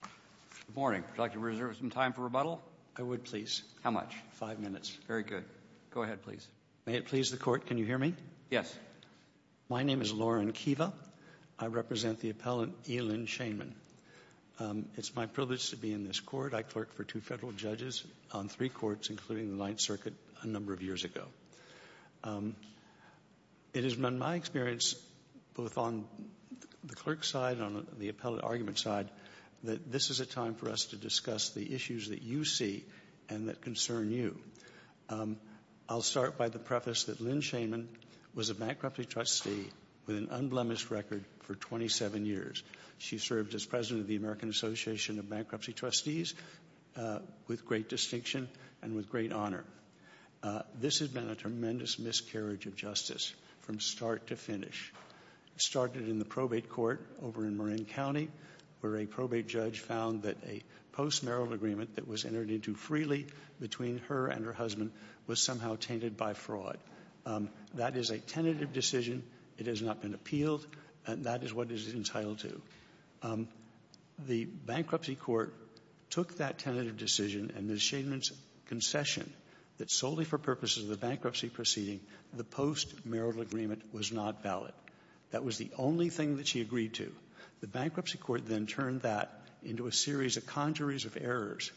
Good morning. Would you like to reserve some time for rebuttal? I would, please. How much? Five minutes. Very good. Go ahead, please. May it please the court, can you hear me? Yes. My name is Lauren Kiva. I represent the appellant Elin Shainman. It's my privilege to be in this court. I clerked for two federal judges on three courts, including the Ninth Circuit, a number of years ago. It has been my experience, both on the clerk side and on the appellate argument side, that this is a time for us to discuss the issues that you see and that concern you. I'll start by the preface that Elin Shainman was a bankruptcy trustee with an unblemished record for 27 years. She served as president of the American Association of Bankruptcy Trustees with great distinction and with great integrity. She started in the probate court over in Marin County, where a probate judge found that a post-marital agreement that was entered into freely between her and her husband was somehow tainted by fraud. That is a tentative decision. It has not been appealed. That is what it is entitled to. The bankruptcy court took that tentative decision and Ms. Shainman's concession that solely for purposes of the bankruptcy proceeding, the post-marital agreement was not valid. That was the only thing that she agreed to. The bankruptcy court then turned that into a series of congeries of errors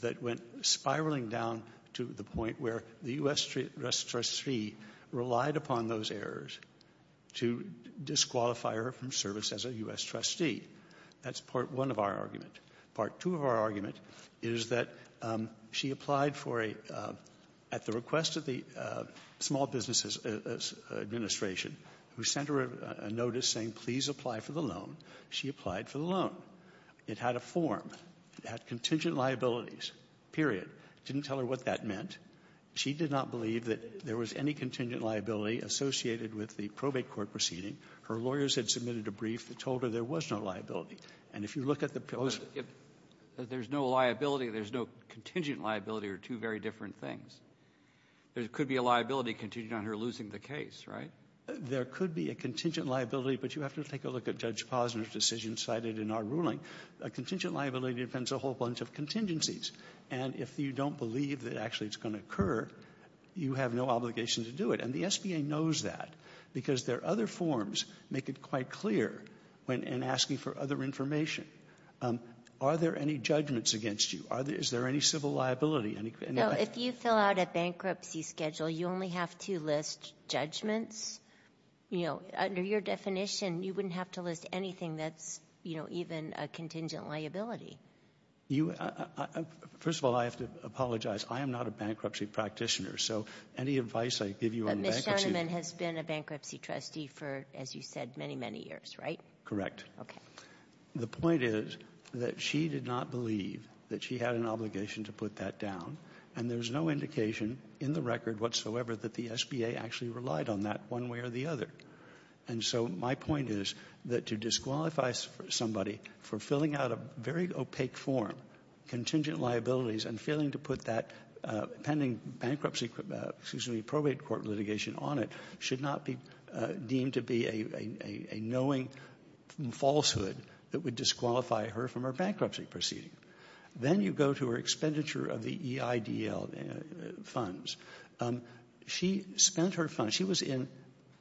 that went spiraling down to the point where the U.S. trustee relied upon those errors to disqualify her from service as a U.S. trustee. That's part one of our argument. Part two of our argument is that she applied for a loan. At the request of the Small Business Administration, who sent her a notice saying please apply for the loan, she applied for the loan. It had a form. It had contingent liabilities, period. It didn't tell her what that meant. She did not believe that there was any contingent liability associated with the probate court proceeding. Her lawyers had submitted a brief that told her there was no liability. And if you look at the pillars there's no liability. There's no contingent liability or two very different things. There could be a liability contingent on her losing the case, right? There could be a contingent liability, but you have to take a look at Judge Posner's decision cited in our ruling. A contingent liability depends on a whole bunch of contingencies. And if you don't believe that actually it's going to occur, you have no obligation to do it. And the SBA knows that because there are other forms that make it quite clear when asking for other information. Are there any judgments against you? Is there any civil liability? No. If you fill out a bankruptcy schedule, you only have to list judgments. You know, under your definition, you wouldn't have to list anything that's, you know, even a contingent liability. First of all, I have to apologize. I am not a bankruptcy practitioner. So any advice I give you on bankruptcy — But Ms. Shoneman has been a bankruptcy trustee for, as you said, many, many years, right? Correct. Okay. The point is that she did not believe that she had an obligation to put that down. And there's no indication in the record whatsoever that the SBA actually relied on that one way or the other. And so my point is that to disqualify somebody for filling out a very opaque form of contingent liabilities and failing to put that pending bankruptcy, excuse me, probate court litigation on it should not be deemed to be a knowing falsehood that would disqualify her from her bankruptcy proceeding. Then you go to her expenditure of the EIDL funds. She spent her funds — she was in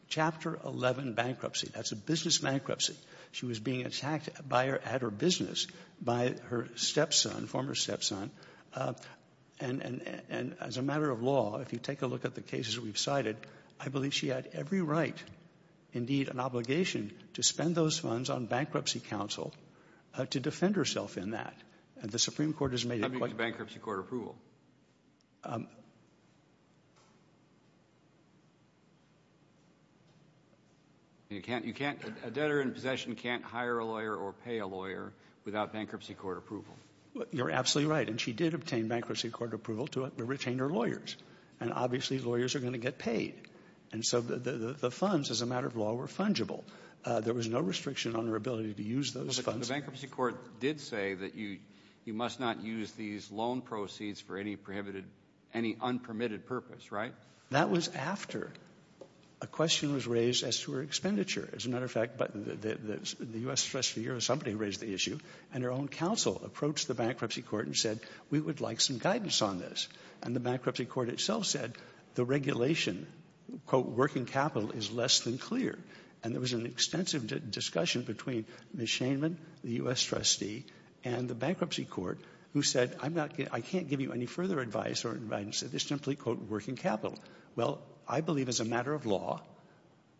Chapter 11 bankruptcy. That's a business bankruptcy. She was being attacked at her business by her stepson, former stepson. And as a matter of law, if you take a look at the cases we've cited, I believe she had every right, indeed an obligation, to spend those funds on bankruptcy counsel to defend herself in that. And the Supreme Court has made it quite — How do you get bankruptcy court approval? You can't — a debtor in possession can't hire a lawyer or pay a lawyer without bankruptcy court approval. You're absolutely right. And she did obtain bankruptcy court approval to retain her lawyers. And obviously, lawyers are going to get paid. And so the funds, as a matter of law, were fungible. There was no restriction on her ability to use those funds. But the bankruptcy court did say that you must not use these loan proceeds for any prohibited — any unpermitted purpose, right? That was after a question was raised as to her expenditure. As a matter of fact, the U.S. Treasury Bureau is somebody who raised the issue. And her own counsel approached the bankruptcy court and said, we would like some guidance on this. And the bankruptcy court itself said the regulation, quote, working capital, is less than clear. And there was an extensive discussion between Ms. Shainman, the U.S. trustee, and the bankruptcy court, who said, I'm not — I can't give you any further advice or guidance. It's simply, quote, working capital. Well, I believe as a matter of law,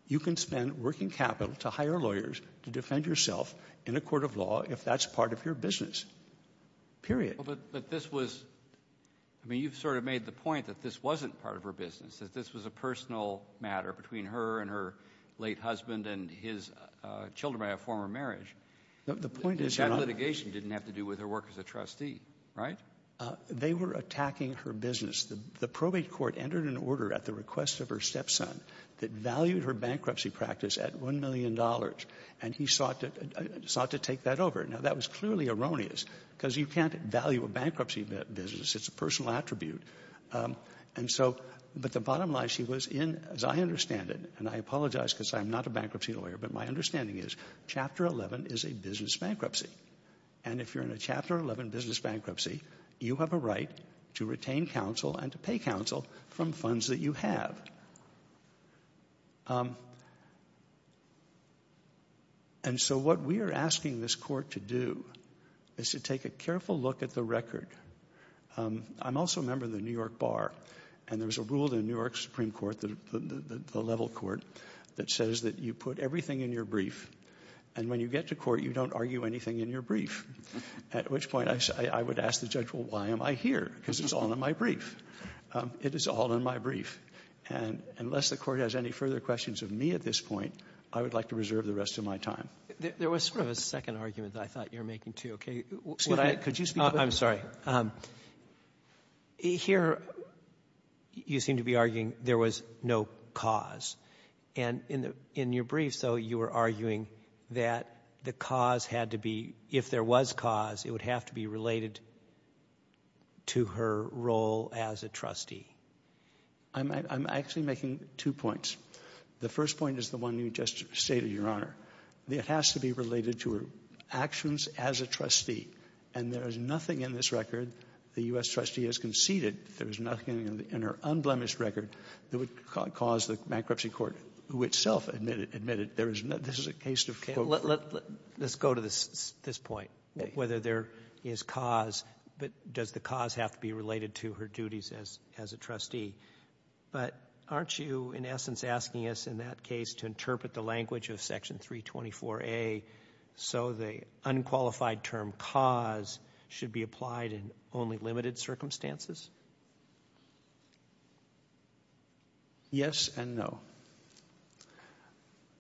you can spend working capital to hire lawyers to defend yourself in a court of law if that's part of your business, period. But this was — I mean, you've sort of made the point that this wasn't part of her business, that this was a personal matter between her and her late husband and his children by a former marriage. The point is — That litigation didn't have to do with her work as a trustee, right? They were attacking her business. The probate court entered an order at the request of her stepson that valued her bankruptcy practice at $1 million. And he sought to — sought to take that over. Now, that was clearly erroneous because you can't value a bankruptcy business. It's a personal attribute. And so — but the bottom line, she was in, as I understand it — and I apologize because I'm not a bankruptcy lawyer, but my understanding is Chapter 11 is a business bankruptcy. And if you're in a Chapter 11 business bankruptcy, you have a right to retain counsel and to pay counsel from funds that you have. And so what we are asking this court to do is to take a careful look at the record. I'm also a member of the New York Bar, and there was a rule in the New York Supreme Court, the level court, that says that you put everything in your brief, and when you get to court, you don't argue anything in your brief, at which point I would ask the judge, well, why am I here? Because it's all in my brief. It is all in my brief. And unless the court has any further questions of me at this point, I would like to reserve the rest of my time. There was sort of a second argument that I thought you were making, too, OK? Excuse me, could you speak — I'm sorry. Here, you seem to be arguing there was no cause. And in your brief, though, you were arguing that the cause had to be — if there was cause, it would have to be related to her role as a trustee. I'm actually making two points. The first point is the one you just stated, Your Honor. It has to be related to her actions as a trustee. And there is nothing in this record, the U.S. trustee has conceded, there is nothing in her unblemished record that would cause the bankruptcy court, who itself admitted there is no — this is a case of — OK. Let's go to this point, whether there is cause, but does the cause have to be related to her duties as a trustee? But aren't you, in essence, asking us in that case to interpret the language of Section 324A so the unqualified term cause should be applied in only limited circumstances? Yes and no.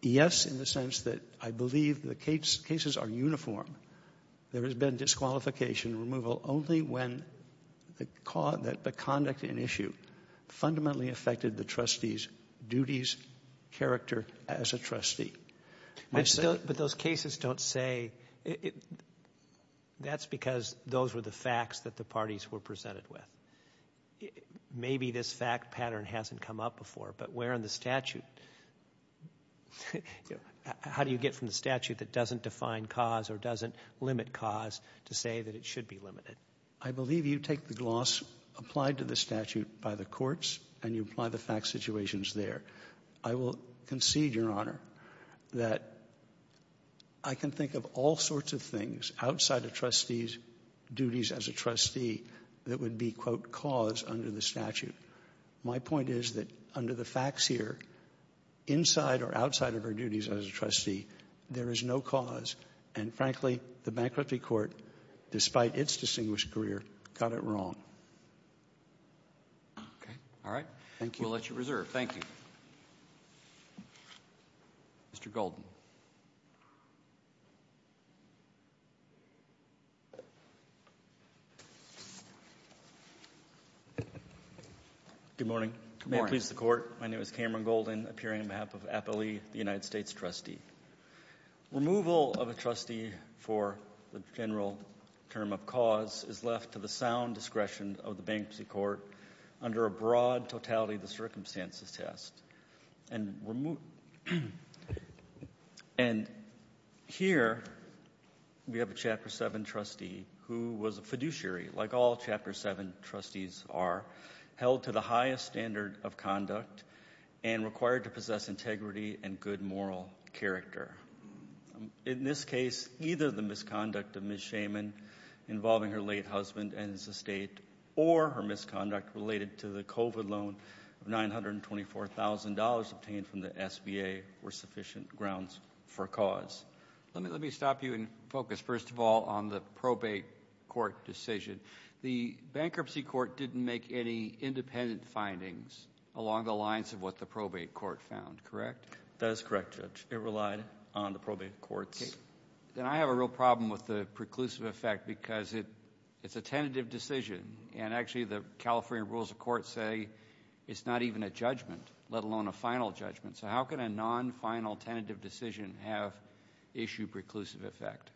Yes, in the sense that I believe the cases are uniform. There has been disqualification removal only when the conduct in issue fundamentally affected the trustee's duties, character as a trustee. But those cases don't say — that's because those were the facts that the parties were presented with. Maybe this fact pattern hasn't come up before, but where in the statute — how do you get from the statute that doesn't define cause or doesn't limit cause to say that it should be limited? I believe you take the gloss applied to the statute by the courts and you apply the fact situations there. I will concede, Your Honor, that I can think of all sorts of things outside a trustee's duties as a trustee that would be, quote, cause under the statute. My point is that under the facts here, inside or outside of her duties as a trustee, there is no cause. And frankly, the bankruptcy court, despite its distinguished career, got it wrong. OK. All right. Thank you. I'll let you reserve. Thank you. Mr. Golden. Good morning. May it please the Court. My name is Cameron Golden, appearing on behalf of Appley, the United States trustee. Removal of a trustee for the general term of cause is left to the sound discretion of the bankruptcy court under a broad totality of the circumstances test. And here we have a Chapter VII trustee who was a fiduciary, like all Chapter VII trustees are, held to the highest standard of conduct and required to possess integrity and good moral character. In this case, either the misconduct of Ms. Schaman involving her late husband and his estate or her misconduct related to the COVID loan of $924,000 obtained from the SBA were sufficient grounds for cause. Let me stop you and focus, first of all, on the probate court decision. The bankruptcy court didn't make any independent findings along the lines of what the probate court found, correct? That is correct, Judge. It relied on the probate courts. Then I have a real problem with the preclusive effect because it's a tentative decision. And actually, the California rules of court say it's not even a judgment, let alone a final judgment. So how can a non-final tentative decision have issue preclusive effect?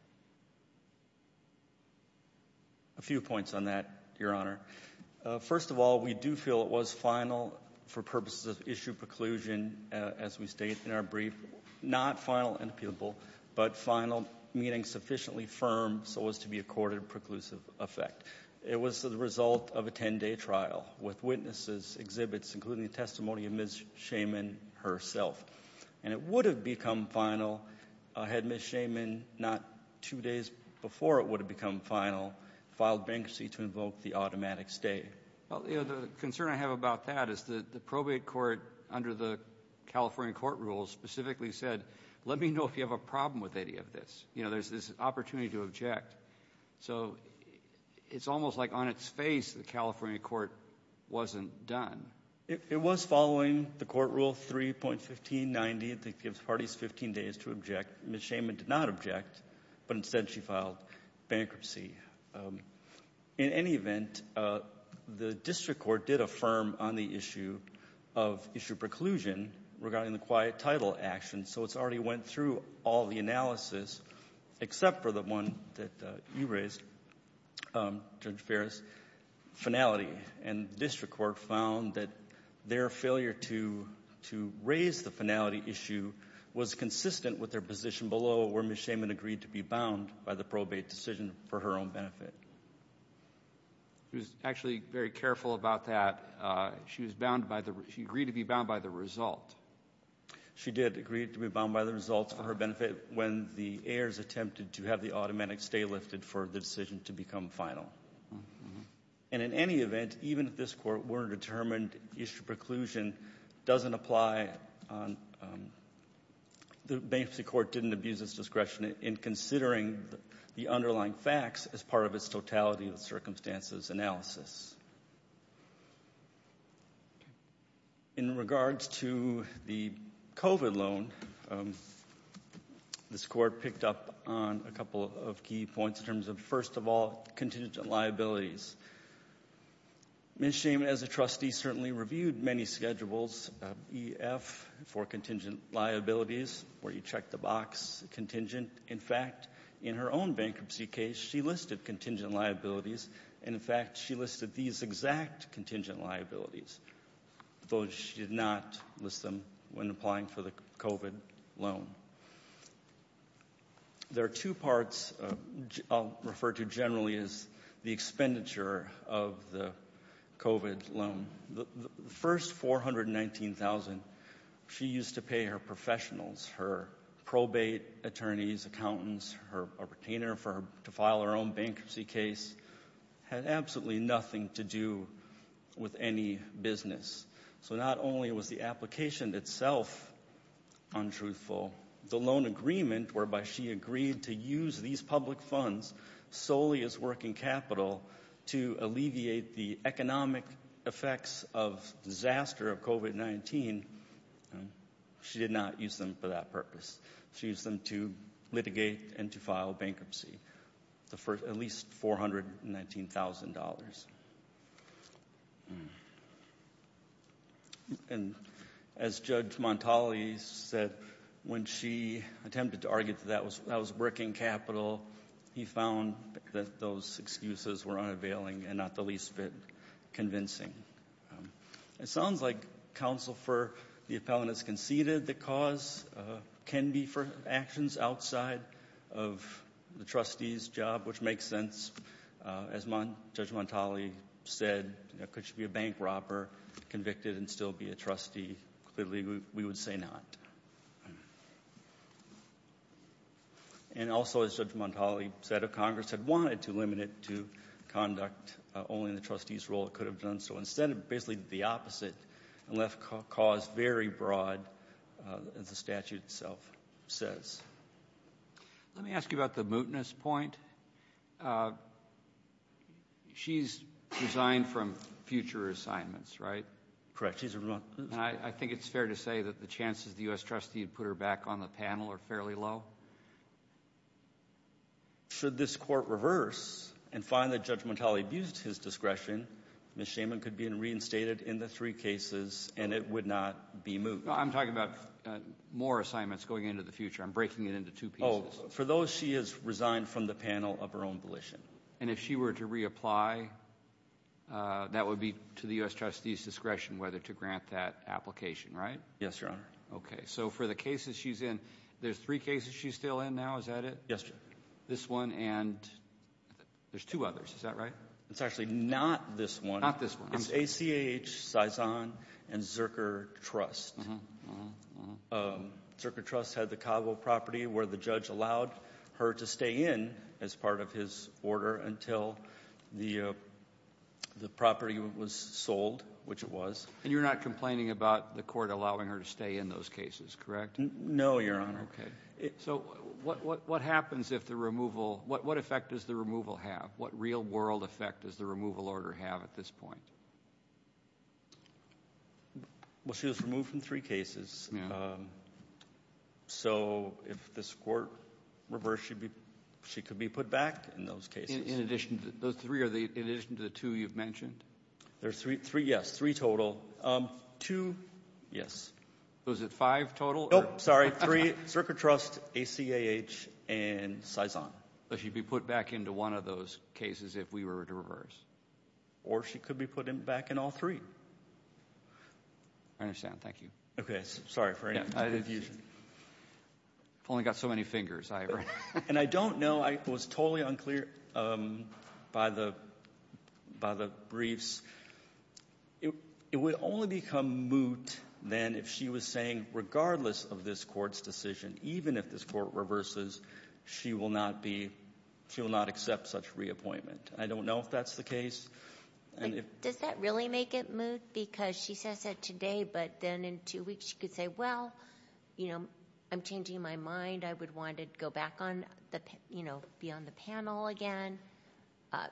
A few points on that, Your Honor. First of all, we do feel it was final for purposes of issue preclusion, as we state in our brief, not final and appealable, but final meaning sufficiently firm so as to be accorded a preclusive effect. It was the result of a 10-day trial with witnesses, exhibits, including the testimony of Ms. Schaman herself. And it would have become final had Ms. Schaman, not two days before it would have become final, filed bankruptcy to invoke the automatic stay. Well, you know, the concern I have about that is the probate court under the California court rule specifically said, let me know if you have a problem with any of this. You know, there's this opportunity to object. So it's almost like on its face the California court wasn't done. It was following the court rule 3.1590 that gives parties 15 days to object. Ms. Schaman did not object, but instead she filed bankruptcy. In any event, the district court did affirm on the issue of issue preclusion regarding the quiet title action. So it's already went through all the analysis except for the one that you raised, Judge Ferris, finality. And the district court found that their failure to raise the finality issue was consistent with their position below where Ms. Schaman agreed to be bound by the probate decision for her own benefit. She was actually very careful about that. She was bound by the, she agreed to be bound by the result. She did agree to be bound by the results for her benefit when the heirs attempted to have the automatic stay lifted for the decision to become final. And in any event, even if this court weren't determined, issue preclusion doesn't apply on, the bankruptcy court didn't abuse its discretion in considering the underlying facts as part of its totality of circumstances analysis. In regards to the COVID loan, this court picked up on a couple of key points in terms of, first of all, contingent liabilities. Ms. Schaman, as a trustee, certainly reviewed many schedules, EF for contingent liabilities, where you check the box, contingent. In fact, in her own bankruptcy case, she listed contingent liabilities. And in fact, she listed these exact contingent liabilities, though she did not list them when applying for the COVID loan. There are two parts I'll refer to generally as the expenditure of the COVID loan. The first $419,000 she used to pay her professionals, her probate attorneys, accountants, her retainer to file her own bankruptcy case, had absolutely nothing to do with any business. So not only was the application itself untruthful, the loan agreement whereby she agreed to use these public funds solely as working capital to alleviate the economic effects of disaster of COVID-19, she did not use them for that purpose. She used them to litigate and to file bankruptcy for at least $419,000. And as Judge Montali said, when she attempted to argue that that was working capital, he found that those excuses were unavailing and not the least bit convincing. It sounds like counsel for the appellant has conceded the cause can be for actions outside of the trustee's job, which makes sense. As Judge Montali said, could she be a bank robber, convicted and still be a trustee? Clearly, we would say not. And also, as Judge Montali said, if Congress had wanted to limit it to conduct only in the trustee's role, it could have done so. Instead, it basically did the opposite and left cause very broad, as the statute itself says. Let me ask you about the mootness point. She's resigned from future assignments, right? Correct. I think it's fair to say that the chances the U.S. trustee put her back on the panel are fairly low. Should this court reverse and find that Judge Montali abused his discretion, Ms. Shaman could be reinstated in the three cases and it would not be moot. I'm talking about more assignments going into the future. I'm breaking it into two pieces. For those, she has resigned from the panel of her own volition. And if she were to reapply, that would be to the U.S. trustee's discretion whether to grant that application, right? Yes, Your Honor. Okay. So for the cases she's in, there's three cases she's still in now. Is that it? Yes, Your Honor. This one and there's two others. Is that right? It's actually not this one. Not this one. It's ACH, Cizan, and Zerker Trust. Uh-huh, uh-huh, uh-huh. Zerker Trust had the cargo property where the judge allowed her to stay in as part of his order until the property was sold, which it was. And you're not complaining about the court allowing her to stay in those cases, correct? No, Your Honor. Okay. So what happens if the removal, what effect does the removal have? What real-world effect does the removal order have at this point? Well, she was removed from three cases, so if this court reversed, she could be put back in those cases. In addition, those three, in addition to the two you've mentioned? There's three, yes, three total. Two, yes. Was it five total? Nope, sorry, three, Zerker Trust, ACH, and Cizan. But she'd be put back into one of those cases if we were to reverse? Or she could be put back in all three. I understand. Thank you. Okay. Sorry for any confusion. I've only got so many fingers, Ira. And I don't know, I was totally unclear by the briefs. It would only become moot then if she was saying regardless of this court's decision, even if this court reverses, she will not be, she will not accept such reappointment. I don't know if that's the case. Does that really make it moot? Because she says that today, but then in two weeks, she could say, well, you know, I'm changing my mind. I would want to go back on the, you know, be on the panel again.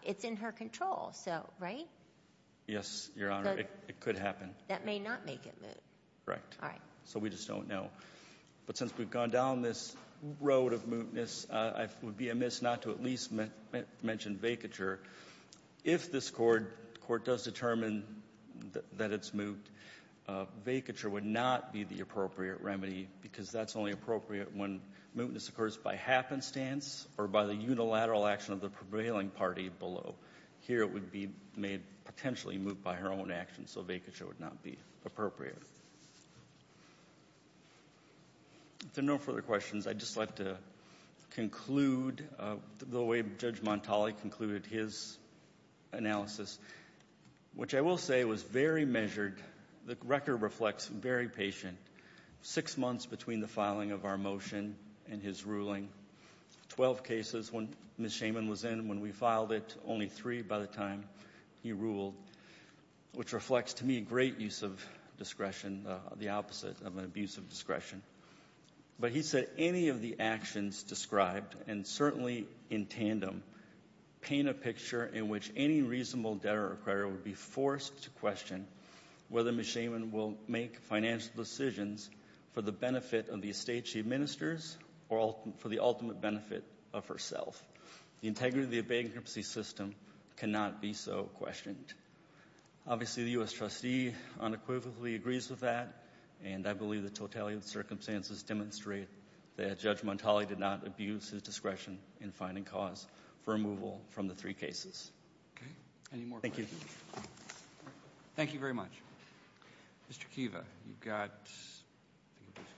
It's in her control, so, right? Yes, Your Honor, it could happen. That may not make it moot. Correct. All right. So we just don't know. But since we've gone down this road of mootness, I would be amiss not to at least mention vacature. If this court does determine that it's moot, vacature would not be the appropriate remedy because that's only appropriate when mootness occurs by happenstance or by the unilateral action of the prevailing party below. Here it would be made potentially moot by her own actions, so vacature would not be appropriate. If there are no further questions, I'd just like to conclude the way Judge Montali concluded his analysis, which I will say was very measured. The record reflects very patient. Six months between the filing of our motion and his ruling, 12 cases when Ms. Shaman was in, when we filed it, only three by the time he ruled, which reflects to me great use of discretion, the opposite of an abuse of discretion. But he said any of the actions described, and certainly in tandem, paint a picture in which any reasonable debtor or acquirer would be forced to question whether Ms. Shaman will make financial decisions for the benefit of the estate she administers or for the ultimate benefit of herself. The integrity of the bankruptcy system cannot be so questioned. Obviously, the U.S. circumstances demonstrate that Judge Montali did not abuse his discretion in finding cause for removal from the three cases. Roberts. Okay. Any more questions? Thank you. Thank you very much. Mr. Kiva, you've got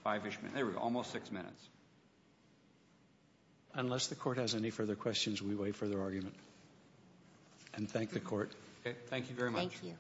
five-ish minutes. There we go. Almost six minutes. Unless the Court has any further questions, we wait for their argument. And thank the Court. Okay. Thank you very much. Thank you.